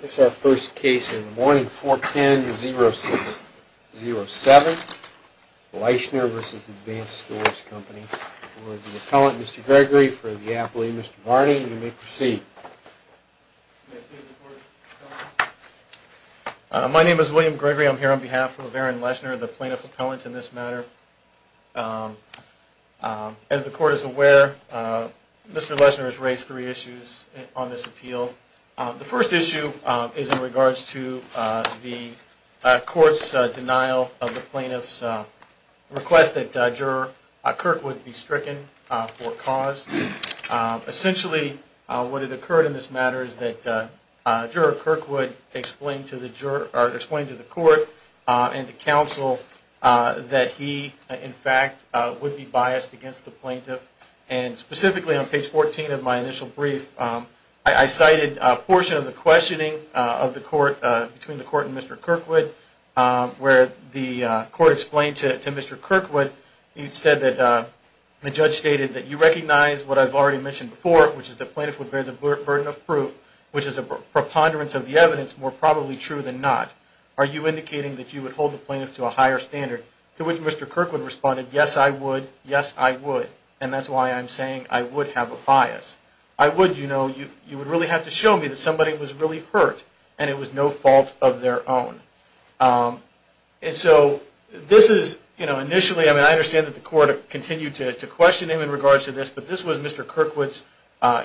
This is our first case in the morning, 4-10-0-6-0-7. Leischner v. Advance Stores Company. We'll have the appellant, Mr. Gregory, for the appellee. Mr. Varney, you may proceed. My name is William Gregory. I'm here on behalf of Aaron Leischner, the plaintiff appellant in this matter. As the court is aware, Mr. Leischner has raised three issues on this appeal. The first issue is in regards to the court's denial of the plaintiff's request that Juror Kirkwood be stricken for cause. Essentially, what had occurred in this matter is that Juror Kirkwood explained to the court and the counsel that he, in fact, would be biased against the plaintiff. And specifically on page 14 of my initial brief, I cited a portion of the questioning between the court and Mr. Kirkwood, where the court explained to Mr. Kirkwood, you said that the judge stated that you recognize what I've already mentioned before, which is the plaintiff would bear the burden of proof, which is a preponderance of the evidence more probably true than not. Are you indicating that you would hold the plaintiff to a higher standard? To which Mr. Kirkwood responded, yes, I would. Yes, I would. And that's why I'm saying I would have a bias. I would, you know, you would really have to show me that somebody was really hurt and it was no fault of their own. And so this is initially, I mean, I understand that the court continued to question him in regards to this, but this was Mr. Kirkwood's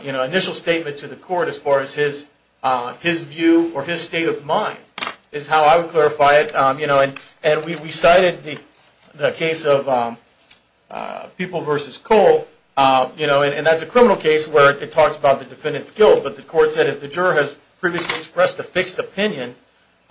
initial statement to the court as far as his view or his state of mind is how I would clarify it. And we cited the case of People v. Cole. And that's a criminal case where it talks about the defendant's guilt. But the court said if the juror has previously expressed a fixed opinion,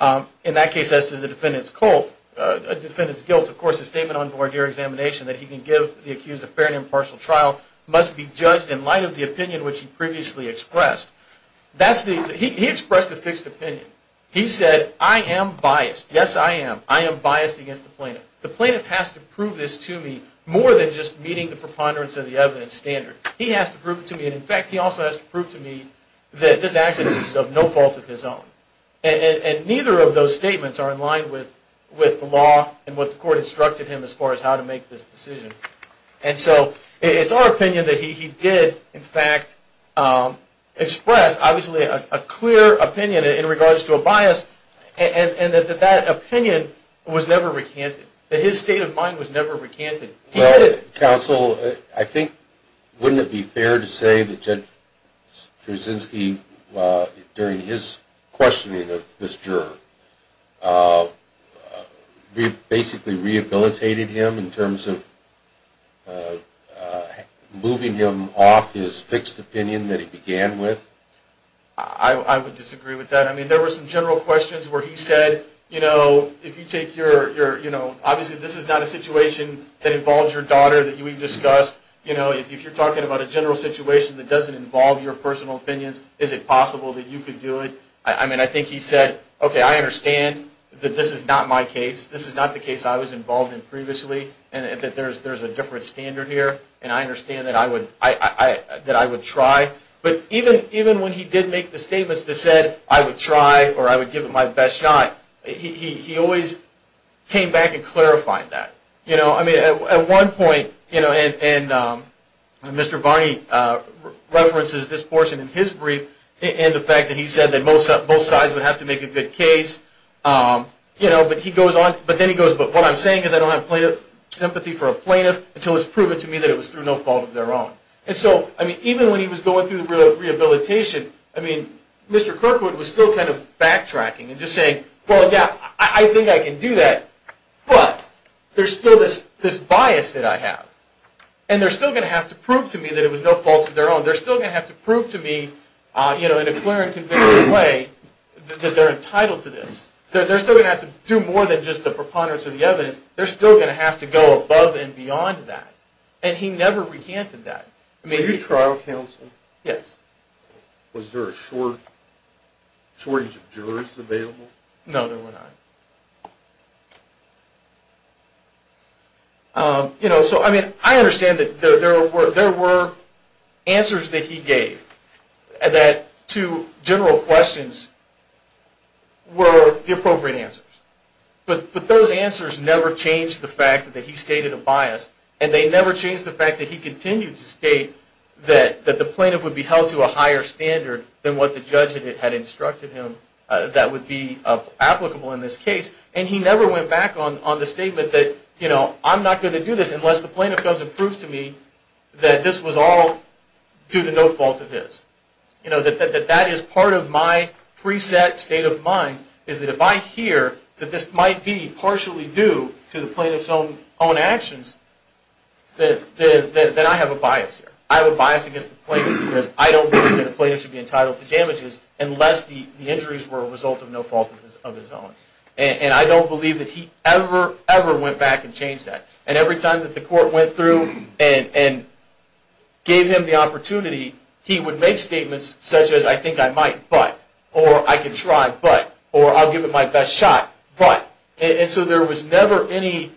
in that case as to the defendant's guilt, of course, the statement on board your examination that he can give the accused a fair and impartial trial must be judged in light of the opinion which he previously expressed. He expressed a fixed opinion. He said, I am biased. Yes, I am. I am biased against the plaintiff. The plaintiff has to prove this to me more than just meeting the preponderance of the evidence standard. He has to prove it to me. And in fact, he also has to prove to me that this accident was of no fault of his own. And neither of those statements are in line with the law and what the court instructed him as far as how to make this decision. And so it's our opinion that he did, in fact, express, obviously, a clear opinion in regards to a bias and that that opinion was never recanted, that his state of mind was never recanted. Counsel, I think, wouldn't it be fair to say that Judge Straczynski, during his questioning of this juror, basically rehabilitated him in terms of moving him off his fixed opinion that he began with? I would disagree with that. I mean, there were some general questions where he said, you know, if you take your, you know, obviously, this is not a situation that involves your daughter that we've discussed. You know, if you're talking about a general situation that doesn't involve your personal opinions, is it possible that you could do it? I mean, I think he said, OK, I understand that this is not my case. This is not the case I was involved in previously and that there's a different standard here. And I understand that I would try. But even when he did make the statements that said, I would try or I would give it my best shot, he always came back and clarified that. You know, I mean, at one point, you know, and Mr. Varney references this portion in his brief and the fact that he said that both sides would have to make a good case. You know, but he goes on. But then he goes, but what I'm saying is I don't have sympathy for a plaintiff until it's proven to me that it was through no fault of their own. And so, I mean, even when he was going through the rehabilitation, I mean, Mr. Kirkwood was still kind of backtracking and just saying, well, yeah, I think I can do that. But there's still this bias that I have. And they're still going to have to prove to me that it was no fault of their own. They're still going to have to prove to me, you know, in a clear and convincing way that they're entitled to this. They're still going to have to do more than just the preponderance of the evidence. They're still going to have to go above and beyond that. And he never recanted that. Were you trial counsel? Yes. Was there a shortage of jurors available? No, there were not. You know, so I mean, I understand that there were answers that he gave that to general questions were the appropriate answers. But those answers never changed the fact that he stated a bias. And they never changed the fact that he continued to state that the plaintiff would be held to a higher standard than what the judge had instructed him that would be applicable in this case. And he never went back on the statement that, you know, I'm not going to do this unless the plaintiff comes and proves to me that this was all due to no fault of his. You know, that that is part of my preset state of mind is that if I hear that this might be partially due to the plaintiff's own actions, then I have a bias here. I have a bias against the plaintiff because I don't believe that a plaintiff should be entitled to damages unless the injuries were a result of no fault of his own. And I don't believe that he ever, ever went back and changed that. And every time that the court went through and gave him the opportunity, he would make statements such as, I think I might, but. Or I can try, but. Or I'll give it my best shot, but. And so there was never any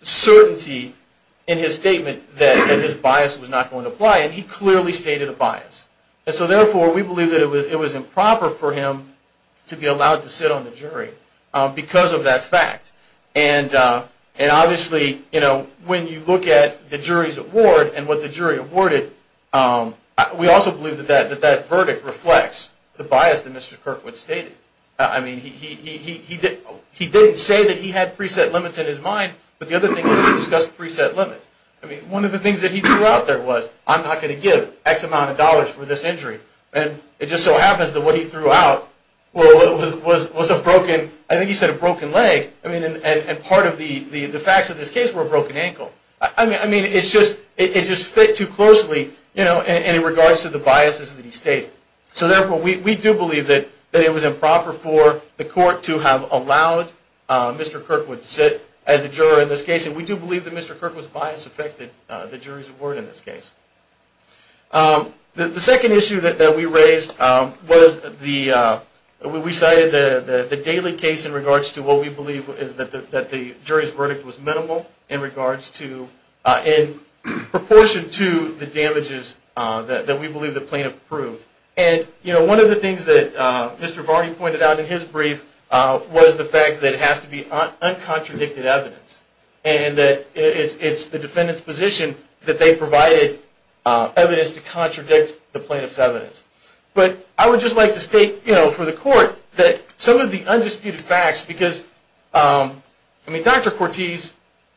certainty in his statement that his bias was not going to apply. And he clearly stated a bias. And so therefore, we believe that it was improper for him to be allowed to sit on the jury because of that fact. And obviously, you know, when you look at the jury's award and what the jury awarded, we also believe that that verdict reflects the bias that Mr. Kirkwood stated. I mean, he didn't say that he had preset limits in his mind. But the other thing is he discussed preset limits. I mean, one of the things that he threw out there was, I'm not going to give X amount of dollars for this injury. And it just so happens that what he threw out was a broken, I think he said a broken leg. I mean, and part of the facts of this case were a broken ankle. I mean, it just fit too closely in regards to the biases that he stated. So therefore, we do believe that it was improper for the court to have allowed Mr. Kirkwood to sit as a juror in this case. And we do believe that Mr. Kirkwood's bias affected the jury's award in this case. The second issue that we raised was the, we cited the Daly case in regards to what we believe is that the jury's verdict was minimal in regards to, in proportion to the damages that we believe the plaintiff proved. And one of the things that Mr. Varney pointed out in his brief was the fact that it has to be uncontradicted evidence. And that it's the defendant's position that they provided evidence to contradict the plaintiff's evidence. But I would just like to state for the court that some of the undisputed facts, because I mean, Dr. Cortese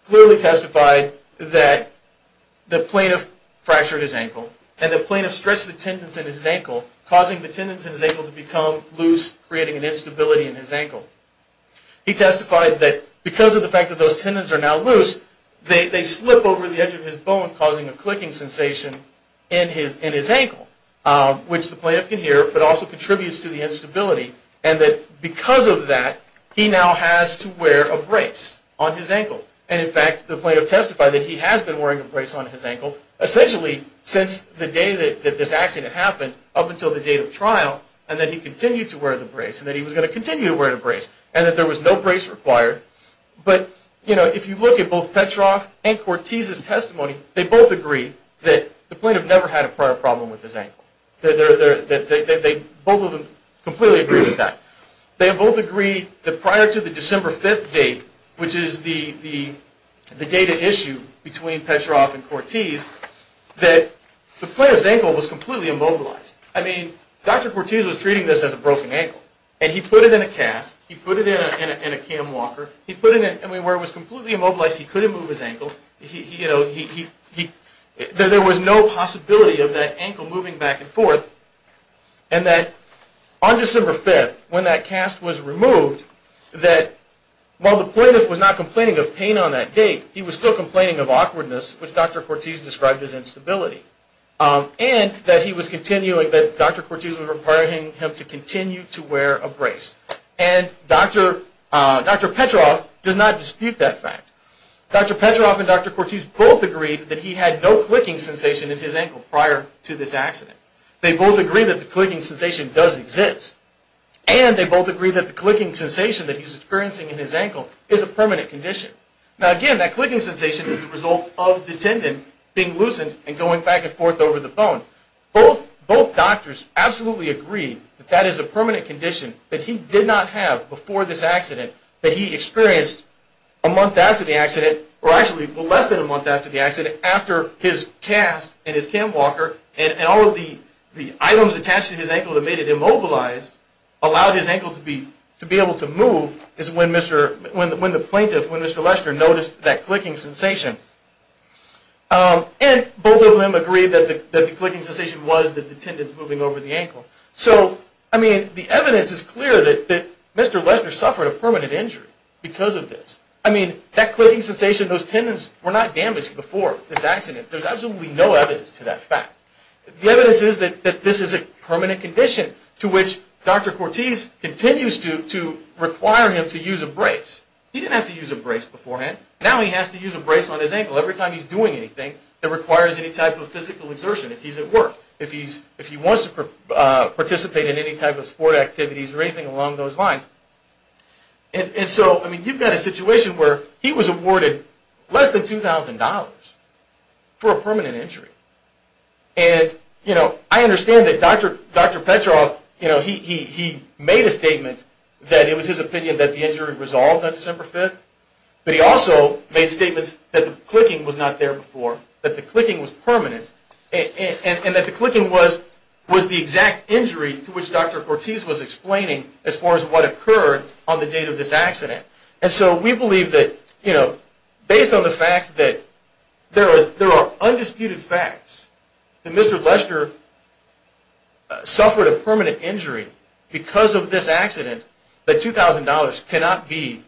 clearly testified that the plaintiff fractured his ankle. And the plaintiff stretched the tendons in his ankle, causing the tendons in his ankle to become loose, creating an instability in his ankle. He testified that because of the fact that those tendons are now loose, they slip over the edge of his bone, causing a clicking sensation in his ankle, which the plaintiff can hear, but also contributes to the instability. And that because of that, he now has to wear a brace on his ankle. And in fact, the plaintiff testified that he has been wearing a brace on his ankle, essentially, since the day that this accident happened, up until the date of trial. And that he continued to wear the brace, and that he was going to continue to wear the brace, and that there was no brace required. But if you look at both Petroff and Cortese's testimony, they both agree that the plaintiff never had a prior problem with his ankle. Both of them completely agree with that. They both agree that prior to the December 5th date, which is the date at issue between Petroff and Cortese, that the plaintiff's ankle was completely immobilized. I mean, Dr. Cortese was treating this as a broken ankle. And he put it in a cast. He put it in a cam walker. He put it in anywhere it was completely immobilized. He couldn't move his ankle. There was no possibility of that ankle moving back and forth. And that on December 5th, when that cast was removed, that while the plaintiff was not complaining of pain on that date, he was still complaining of awkwardness, which Dr. Cortese described as instability. And that Dr. Cortese was requiring him to continue to wear a brace. And Dr. Petroff does not dispute that fact. Dr. Petroff and Dr. Cortese both agreed that he had no clicking sensation in his ankle prior to this accident. They both agree that the clicking sensation does exist. And they both agree that the clicking sensation that he's experiencing in his ankle is a permanent condition. Now, again, that clicking sensation is the result of the tendon being loosened and going back and forth over the bone. Both doctors absolutely agree that that is a permanent condition that he did not have before this accident, that he experienced a month after the accident, or actually less than a month after the accident, after his cast and his cam walker and all of the items attached to his ankle that made it immobilized allowed his ankle to be able to move is when the plaintiff, when Mr. Lester, noticed that clicking sensation. And both of them agreed that the clicking sensation was the tendons moving over the ankle. So I mean, the evidence is clear that Mr. Lester suffered a permanent injury because of this. I mean, that clicking sensation, those tendons were not damaged before this accident. There's absolutely no evidence to that fact. The evidence is that this is a permanent condition to which Dr. Cortese continues to require him to use a brace. He didn't have to use a brace beforehand. Now he has to use a brace on his ankle every time he's doing anything that requires any type of physical exertion if he's at work, if he wants to participate in any type of sport activities or anything along those lines. And so, I mean, you've got a situation where he was awarded less than $2,000 for a permanent injury. And I understand that Dr. Petroff, he made a statement that it was his opinion that the injury resolved on December 5th. But he also made statements that the clicking was not there before, that the clicking was permanent, and that the clicking was the exact injury to which Dr. Cortese was explaining as far as what occurred on the date of this accident. And so we believe that based on the fact that there are undisputed facts that Mr. Lester suffered a permanent injury because of this accident, that $2,000 cannot be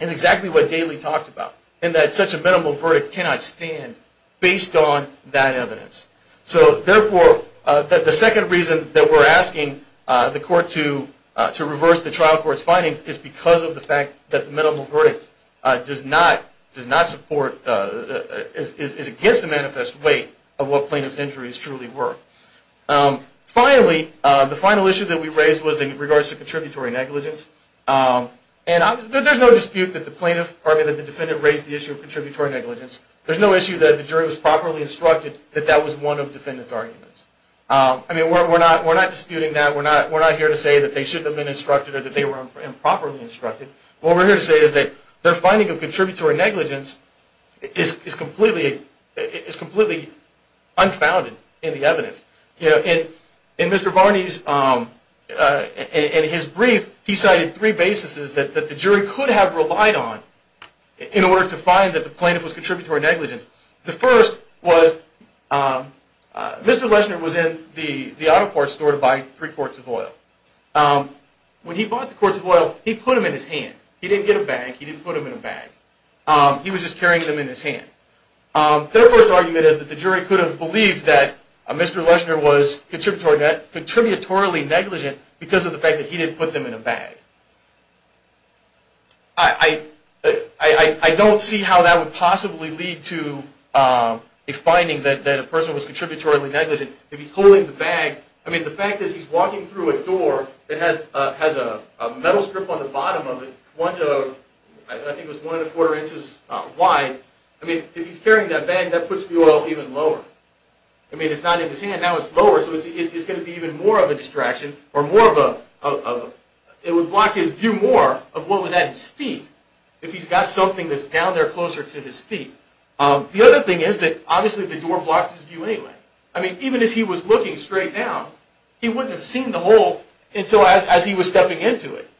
exactly what Daley talked about, and that such a minimal verdict cannot stand based on that evidence. So therefore, the second reason that we're asking the court to reverse the trial court's findings is because of the fact that the minimal verdict does not support, is against the manifest weight of what plaintiff's injuries truly were. Finally, the final issue that we raised was in regards to contributory negligence. And there's no dispute that the defendant raised the issue of contributory negligence. There's no issue that the jury was properly instructed that that was one of the defendant's arguments. I mean, we're not disputing that. We're not here to say that they shouldn't have been instructed or that they were improperly instructed. What we're here to say is that their finding of contributory negligence is completely unfounded in the evidence. In Mr. Varney's brief, he cited three basises that the jury could have relied on in order to find that the plaintiff was contributory negligent. The first was Mr. Lester was in the auto parts store to buy three quarts of oil. When he bought the quarts of oil, he put them in his hand. He didn't get a bag. He didn't put them in a bag. He was just carrying them in his hand. Their first argument is that the jury could have believed that Mr. Lester was contributory negligent because of the fact that he didn't put them in a bag. I don't see how that would possibly lead to a finding that a person was contributory negligent. If he's holding the bag, I mean, the fact is he's walking through a door that has a metal strip on the bottom of it, one to, I think it was one and a quarter inches wide. I mean, if he's carrying that bag, that puts the oil even lower. I mean, it's not in his hand. Now it's lower, so it's going to be even more of a distraction or more of a, it would block his view more of what was at his feet if he's got something that's down there closer to his feet. The other thing is that, obviously, the door blocked his view anyway. I mean, even if he was looking straight down, he wouldn't have seen the hole until as he was stepping into it.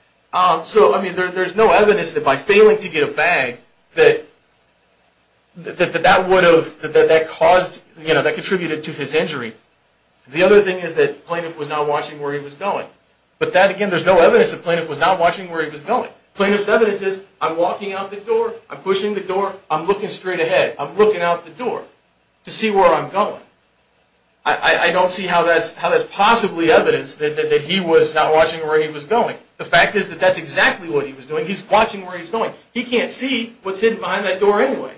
So I mean, there's no evidence that by failing to get a bag that that contributed to his injury. The other thing is that the plaintiff was not watching where he was going. But that, again, there's no evidence that the plaintiff was not watching where he was going. Plaintiff's evidence is, I'm walking out the door. I'm pushing the door. I'm looking straight ahead. I'm looking out the door to see where I'm going. I don't see how that's possibly evidence that he was not watching where he was going. The fact is that that's exactly what he was doing. He's watching where he's going. He can't see what's hidden behind that door anyway.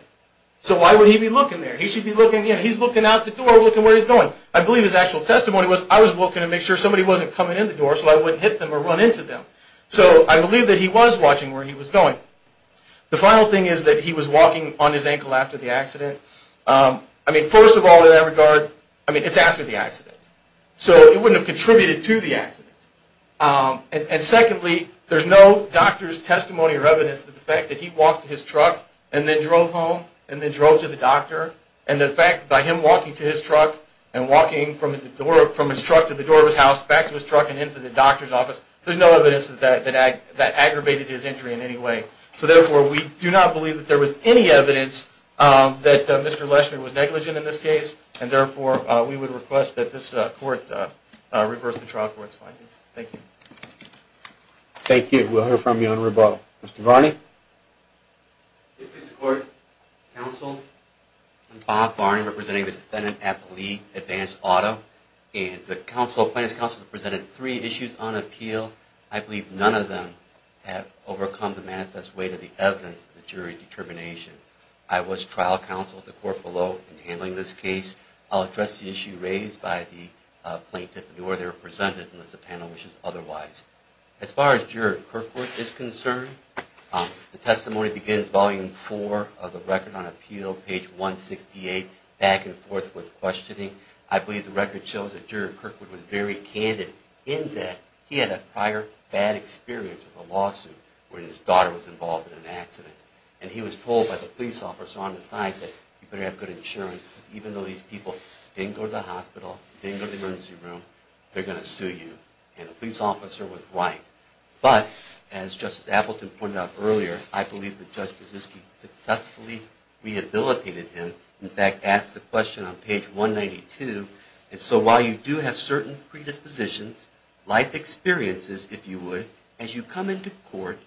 So why would he be looking there? He should be looking in. He's looking out the door, looking where he's going. I believe his actual testimony was, I was looking to make sure somebody wasn't coming in the door so I wouldn't hit them or run into them. So I believe that he was watching where he was going. The final thing is that he was walking on his ankle after the accident. I mean, first of all, in that regard, I mean, it's after the accident. So it wouldn't have contributed to the accident. And secondly, there's no doctor's testimony or evidence of the fact that he walked to his truck and then drove home and then drove to the doctor. And the fact that by him walking to his truck and walking from his truck to the door of his house, back to his truck and into the doctor's office, there's no evidence that that aggravated his injury in any way. So therefore, we do not believe that there was any evidence that Mr. Leshner was negligent in this case. And therefore, we would request that this court reverse the trial court's findings. Thank you. Thank you. We'll hear from you on rebuttal. Mr. Varney? Mr. Court, counsel, I'm Bob Varney, representing the defendant, Applee Advanced Auto. And the plaintiff's counsel has presented three issues on appeal. I believe none of them have overcome the manifest way to the evidence of the jury determination. I was trial counsel at the court below in handling this case. I'll address the issue raised by the plaintiff nor their presented unless the panel wishes otherwise. As far as Juror Kirkwood is concerned, the testimony begins volume four of the record on appeal, page 168, back and forth with questioning. I believe the record shows that Juror Kirkwood was very candid in that he had a prior bad experience with a lawsuit when his daughter was involved in an accident. And he was told by the police officer on the side that you better have good insurance, because even though these people didn't go to the hospital, didn't go to the emergency room, they're going to sue you. And the police officer was right. But as Justice Appleton pointed out earlier, I believe that Judge Brzezinski successfully rehabilitated him. In fact, asked the question on page 192. And so while you do have certain predispositions, life experiences, if you would, as you come into court,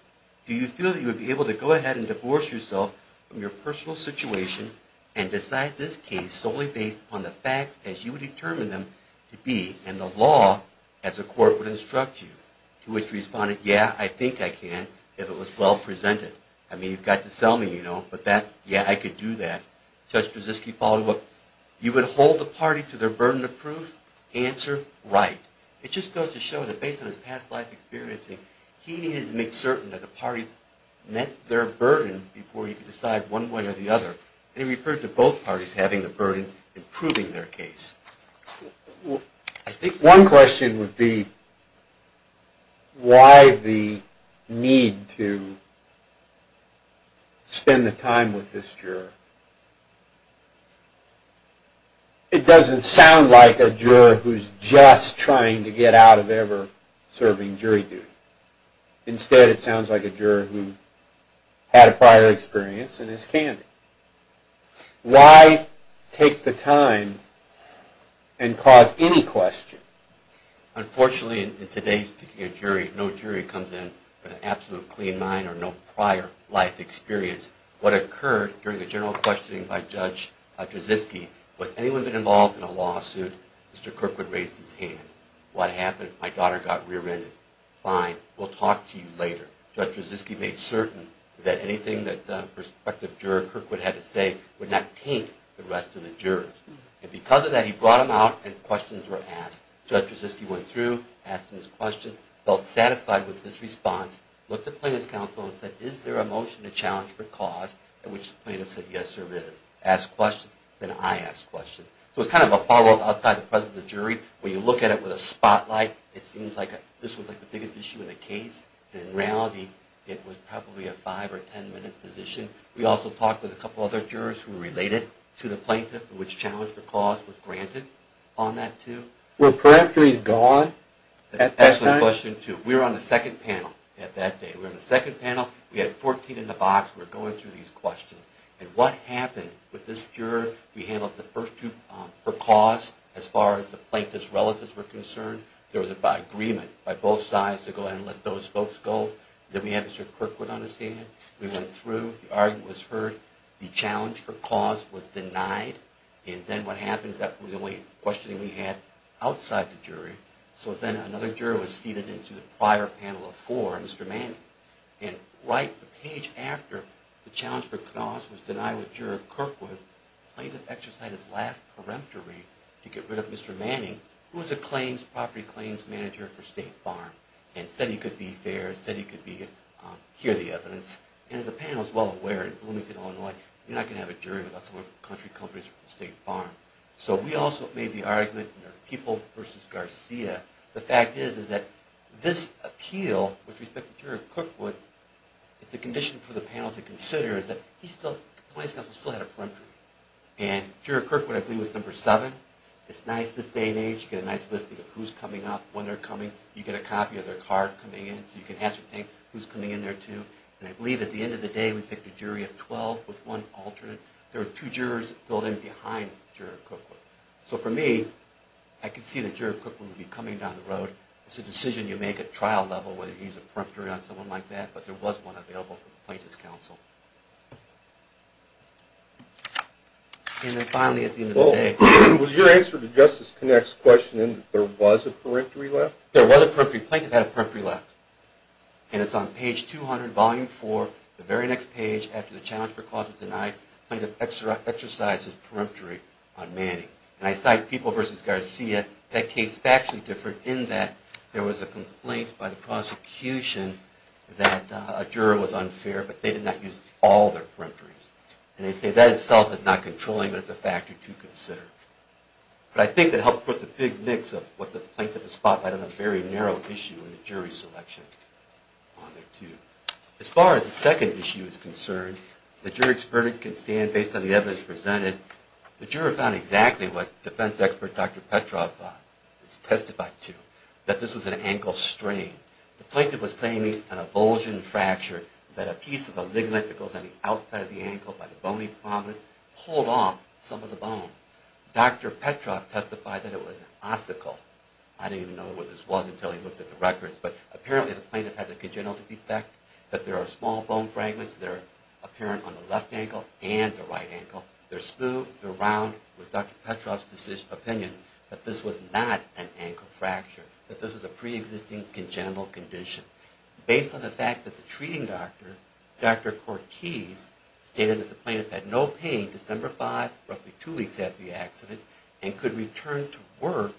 do you feel that you would be able to go ahead and divorce yourself from your personal situation and decide this case solely based on the facts as you would determine them to be and the law as the court would instruct you? To which the respondent, yeah, I think I can, if it was well presented. I mean, you've got to sell me, you know, but yeah, I could do that. Judge Brzezinski followed up, you would hold the party to their burden of proof? Answer, right. It just goes to show that based on his past life experience, he needed to make certain that the parties met their burden before he could decide one way or the other. And he referred to both parties having the burden in proving their case. One question would be why the need to spend the time with this juror. It doesn't sound like a juror who's just trying to get out of ever serving jury duty. Instead, it sounds like a juror who had a prior experience and is candid. Why take the time and cause any question? Unfortunately, in today's jury, no jury comes in with an absolute clean mind or no prior life experience. What occurred during the general questioning by Judge Brzezinski, was anyone involved in a lawsuit? Mr. Kirkwood raised his hand. What happened? My daughter got rear-ended. Fine. We'll talk to you later. Judge Brzezinski made certain that anything that the prospective juror, Kirkwood, had to say would not taint the rest of the jurors. And because of that, he brought him out and questions were asked. Judge Brzezinski went through, asked his questions, felt satisfied with his response, looked at plaintiff's counsel, and said, is there a motion to challenge for cause? At which the plaintiff said, yes, there is. Asked questions. Then I asked questions. So it's kind of a follow-up outside the presence of jury. When you look at it with a spotlight, it seems like this was the biggest issue in the case. In reality, it was probably a five or 10-minute position. We also talked with a couple other jurors who related to the plaintiff, which challenge for cause was granted on that, too. Were peripheries gone at that time? That's an excellent question, too. We were on the second panel that day. We were on the second panel. We had 14 in the box. We were going through these questions. And what happened with this juror? We handled the first two for cause, as far as the plaintiff's relatives were concerned. There was an agreement by both sides to go ahead and let those folks go. Then we had Mr. Kirkwood on the stand. We went through. The argument was heard. The challenge for cause was denied. And then what happened, that was the only questioning we had outside the jury. So then another juror was seated into the prior panel of four, Mr. Manning. And right the page after the challenge for cause was denied with Juror Kirkwood, the plaintiff exercised his last peremptory to get rid of Mr. Manning, who was a property claims manager for State Farm and said he could be fair, said he could hear the evidence. And the panel is well aware in Bloomington, Illinois, you're not going to have a jury without some country companies from State Farm. So we also made the argument, people versus Garcia. The fact is that this appeal, with respect to Juror Kirkwood, it's a condition for the panel to consider is that the plaintiff's counsel still had a peremptory. And Juror Kirkwood, I believe, was number seven. It's nice, this day and age, you get a nice listing of who's coming up, when they're coming. You get a copy of their card coming in, so you can ascertain who's coming in there, too. And I believe at the end of the day, we picked a jury of 12 with one alternate. There were two jurors filled in behind Juror Kirkwood. So for me, I could see that Juror Kirkwood would be coming down the road. It's a decision you make at trial level, whether you use a peremptory on someone like that, but there was one available for the plaintiff's counsel. And then finally, at the end of the day, was your answer to Justice Connacht's question in that there was a peremptory left? There was a peremptory. Plaintiff had a peremptory left. And it's on page 200, volume 4, the very next page, after the challenge for a cause was denied, plaintiff exercises peremptory on Manning. And I cite People v. Garcia. That case is factually different in that there was a complaint by the prosecution that a juror was unfair, but they did not use all their peremptories. And they say that itself is not controlling, but it's a factor to consider. But I think that helps put the big mix of what the plaintiff has spotlighted on a very narrow issue in the jury selection on there, too. As far as the second issue is concerned, the jury expert can stand based on the evidence presented. The juror found exactly what defense expert Dr. Petrov thought, has testified to, that this was an ankle strain. The plaintiff was claiming an abulsion fracture that a piece of a ligament that goes on the outside of the ankle by the bony prominence pulled off some of the bone. Dr. Petrov testified that it was an obstacle. I didn't even know what this was until he looked at the records. But apparently, the plaintiff had a congenital defect, that there are small bone fragments that are apparent on the left ankle and the right ankle. They're smooth, they're round. It was Dr. Petrov's opinion that this was not an ankle fracture, that this was a pre-existing congenital condition. Based on the fact that the treating doctor, Dr. Cortese, stated that the plaintiff had no pain December 5, roughly two weeks after the accident, and could return to work,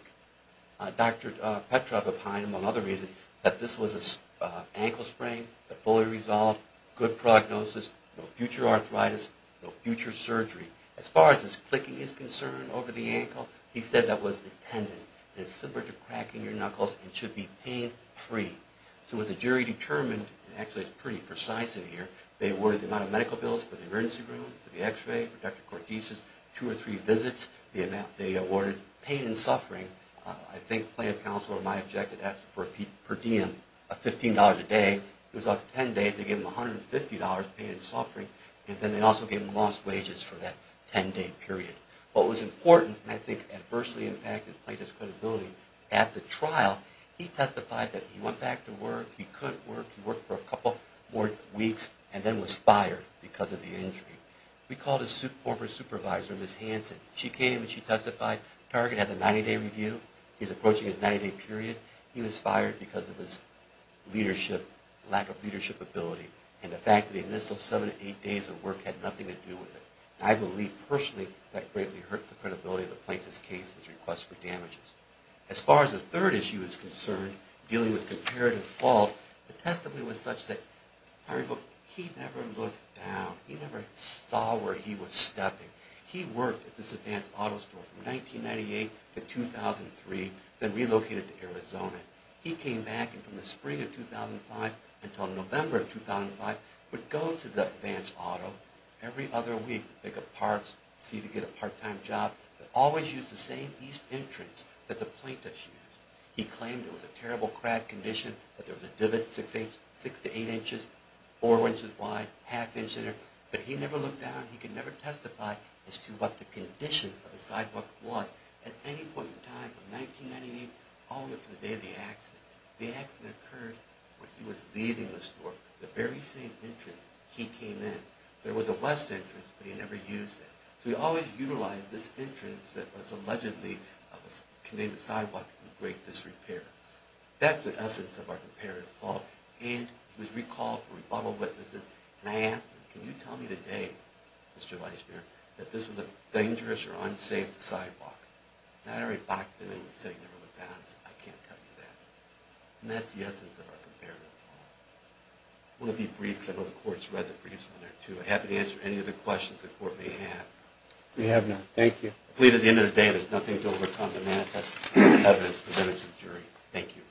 Dr. Petrov opined, among other reasons, that this was an ankle sprain that fully resolved, good prognosis, no future arthritis, no future surgery. As far as this clicking is concerned over the ankle, he said that was the tendon. It's similar to cracking your knuckles, and should be pain-free. So what the jury determined, and actually it's pretty precise in here, they awarded the amount of medical bills for the emergency room, for the x-ray, for Dr. Cortese's, two or three visits. They awarded pain and suffering. I think plaintiff counsel, or my objective, asked for per diem, $15 a day. It was up to 10 days. They gave him $150, pain and suffering. And then they also gave him lost wages for that 10-day period. What was important, and I think adversely impacted the plaintiff's credibility, at the trial, he testified that he went back to work, he could work, he worked for a couple more weeks, and then was fired because of the injury. We called his former supervisor, Ms. Hanson. She came and she testified, Target has a 90-day review. He's approaching his 90-day period. He was fired because of his leadership, lack of leadership ability. And the fact that he missed those seven to eight days of work had nothing to do with it. I believe, personally, that greatly hurt the credibility of the plaintiff's case, his request for damages. As far as the third issue is concerned, dealing with comparative fault, the testimony was such that he never looked down. He never saw where he was stepping. He worked at this advanced auto store from 1998 to 2003, then relocated to Arizona. He came back, and from the spring of 2005 until November of 2005, would go to the advanced auto every other week to pick up parts, see if he could get a part-time job, but always used the same east entrance that the plaintiff used. He claimed it was a terrible crack condition, that there was a divot six to eight inches, four inches wide, half inch in there, but he never looked down. He could never testify as to what the condition of the sidewalk was at any point in time from 1998 all the way up to the day of the accident. The accident occurred when he was leaving the store, the very same entrance he came in. There was a west entrance, but he never used it. So he always utilized this entrance that was allegedly a Canadian sidewalk with great disrepair. That's the essence of our comparative law, and he was recalled for rebuttal witnesses, and I asked him, can you tell me today, Mr. Weissbier, that this was a dangerous or unsafe sidewalk? And I already balked at him and said he never looked down, and he said, I can't tell you that. And that's the essence of our comparative law. One of the briefs, I know the court's read the briefs in there too, I'm happy to answer any other questions the court may have. We have none, thank you. I plead at the end of the day, there's nothing to overcome the manifest evidence of the jury, thank you.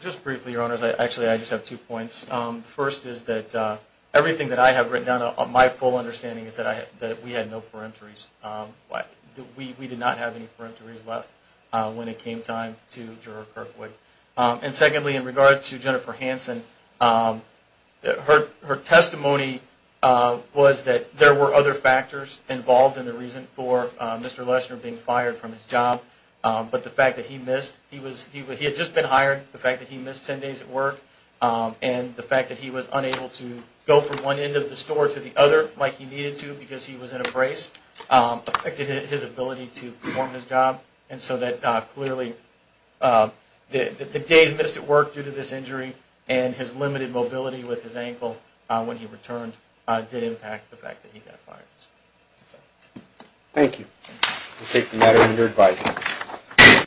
Just briefly, Your Honors, actually I just have two points. The first is that everything that I have written down, my full understanding is that we had no peremptories. We did not have any peremptories left when it came time to juror Kirkwood. And secondly, in regard to Jennifer Hanson, her testimony was that there were other factors involved in the reason for Mr. Lesner being fired from his job. But the fact that he missed, he had just been hired, the fact that he missed 10 days at work, and the fact that he was unable to go from one end of the store to the other like he needed to because he was in a brace, affected his ability And so that clearly, the days missed at work due to this injury and his limited mobility with his ankle when he returned did impact the fact that he got fired. Thank you, we'll take the matter under advisement.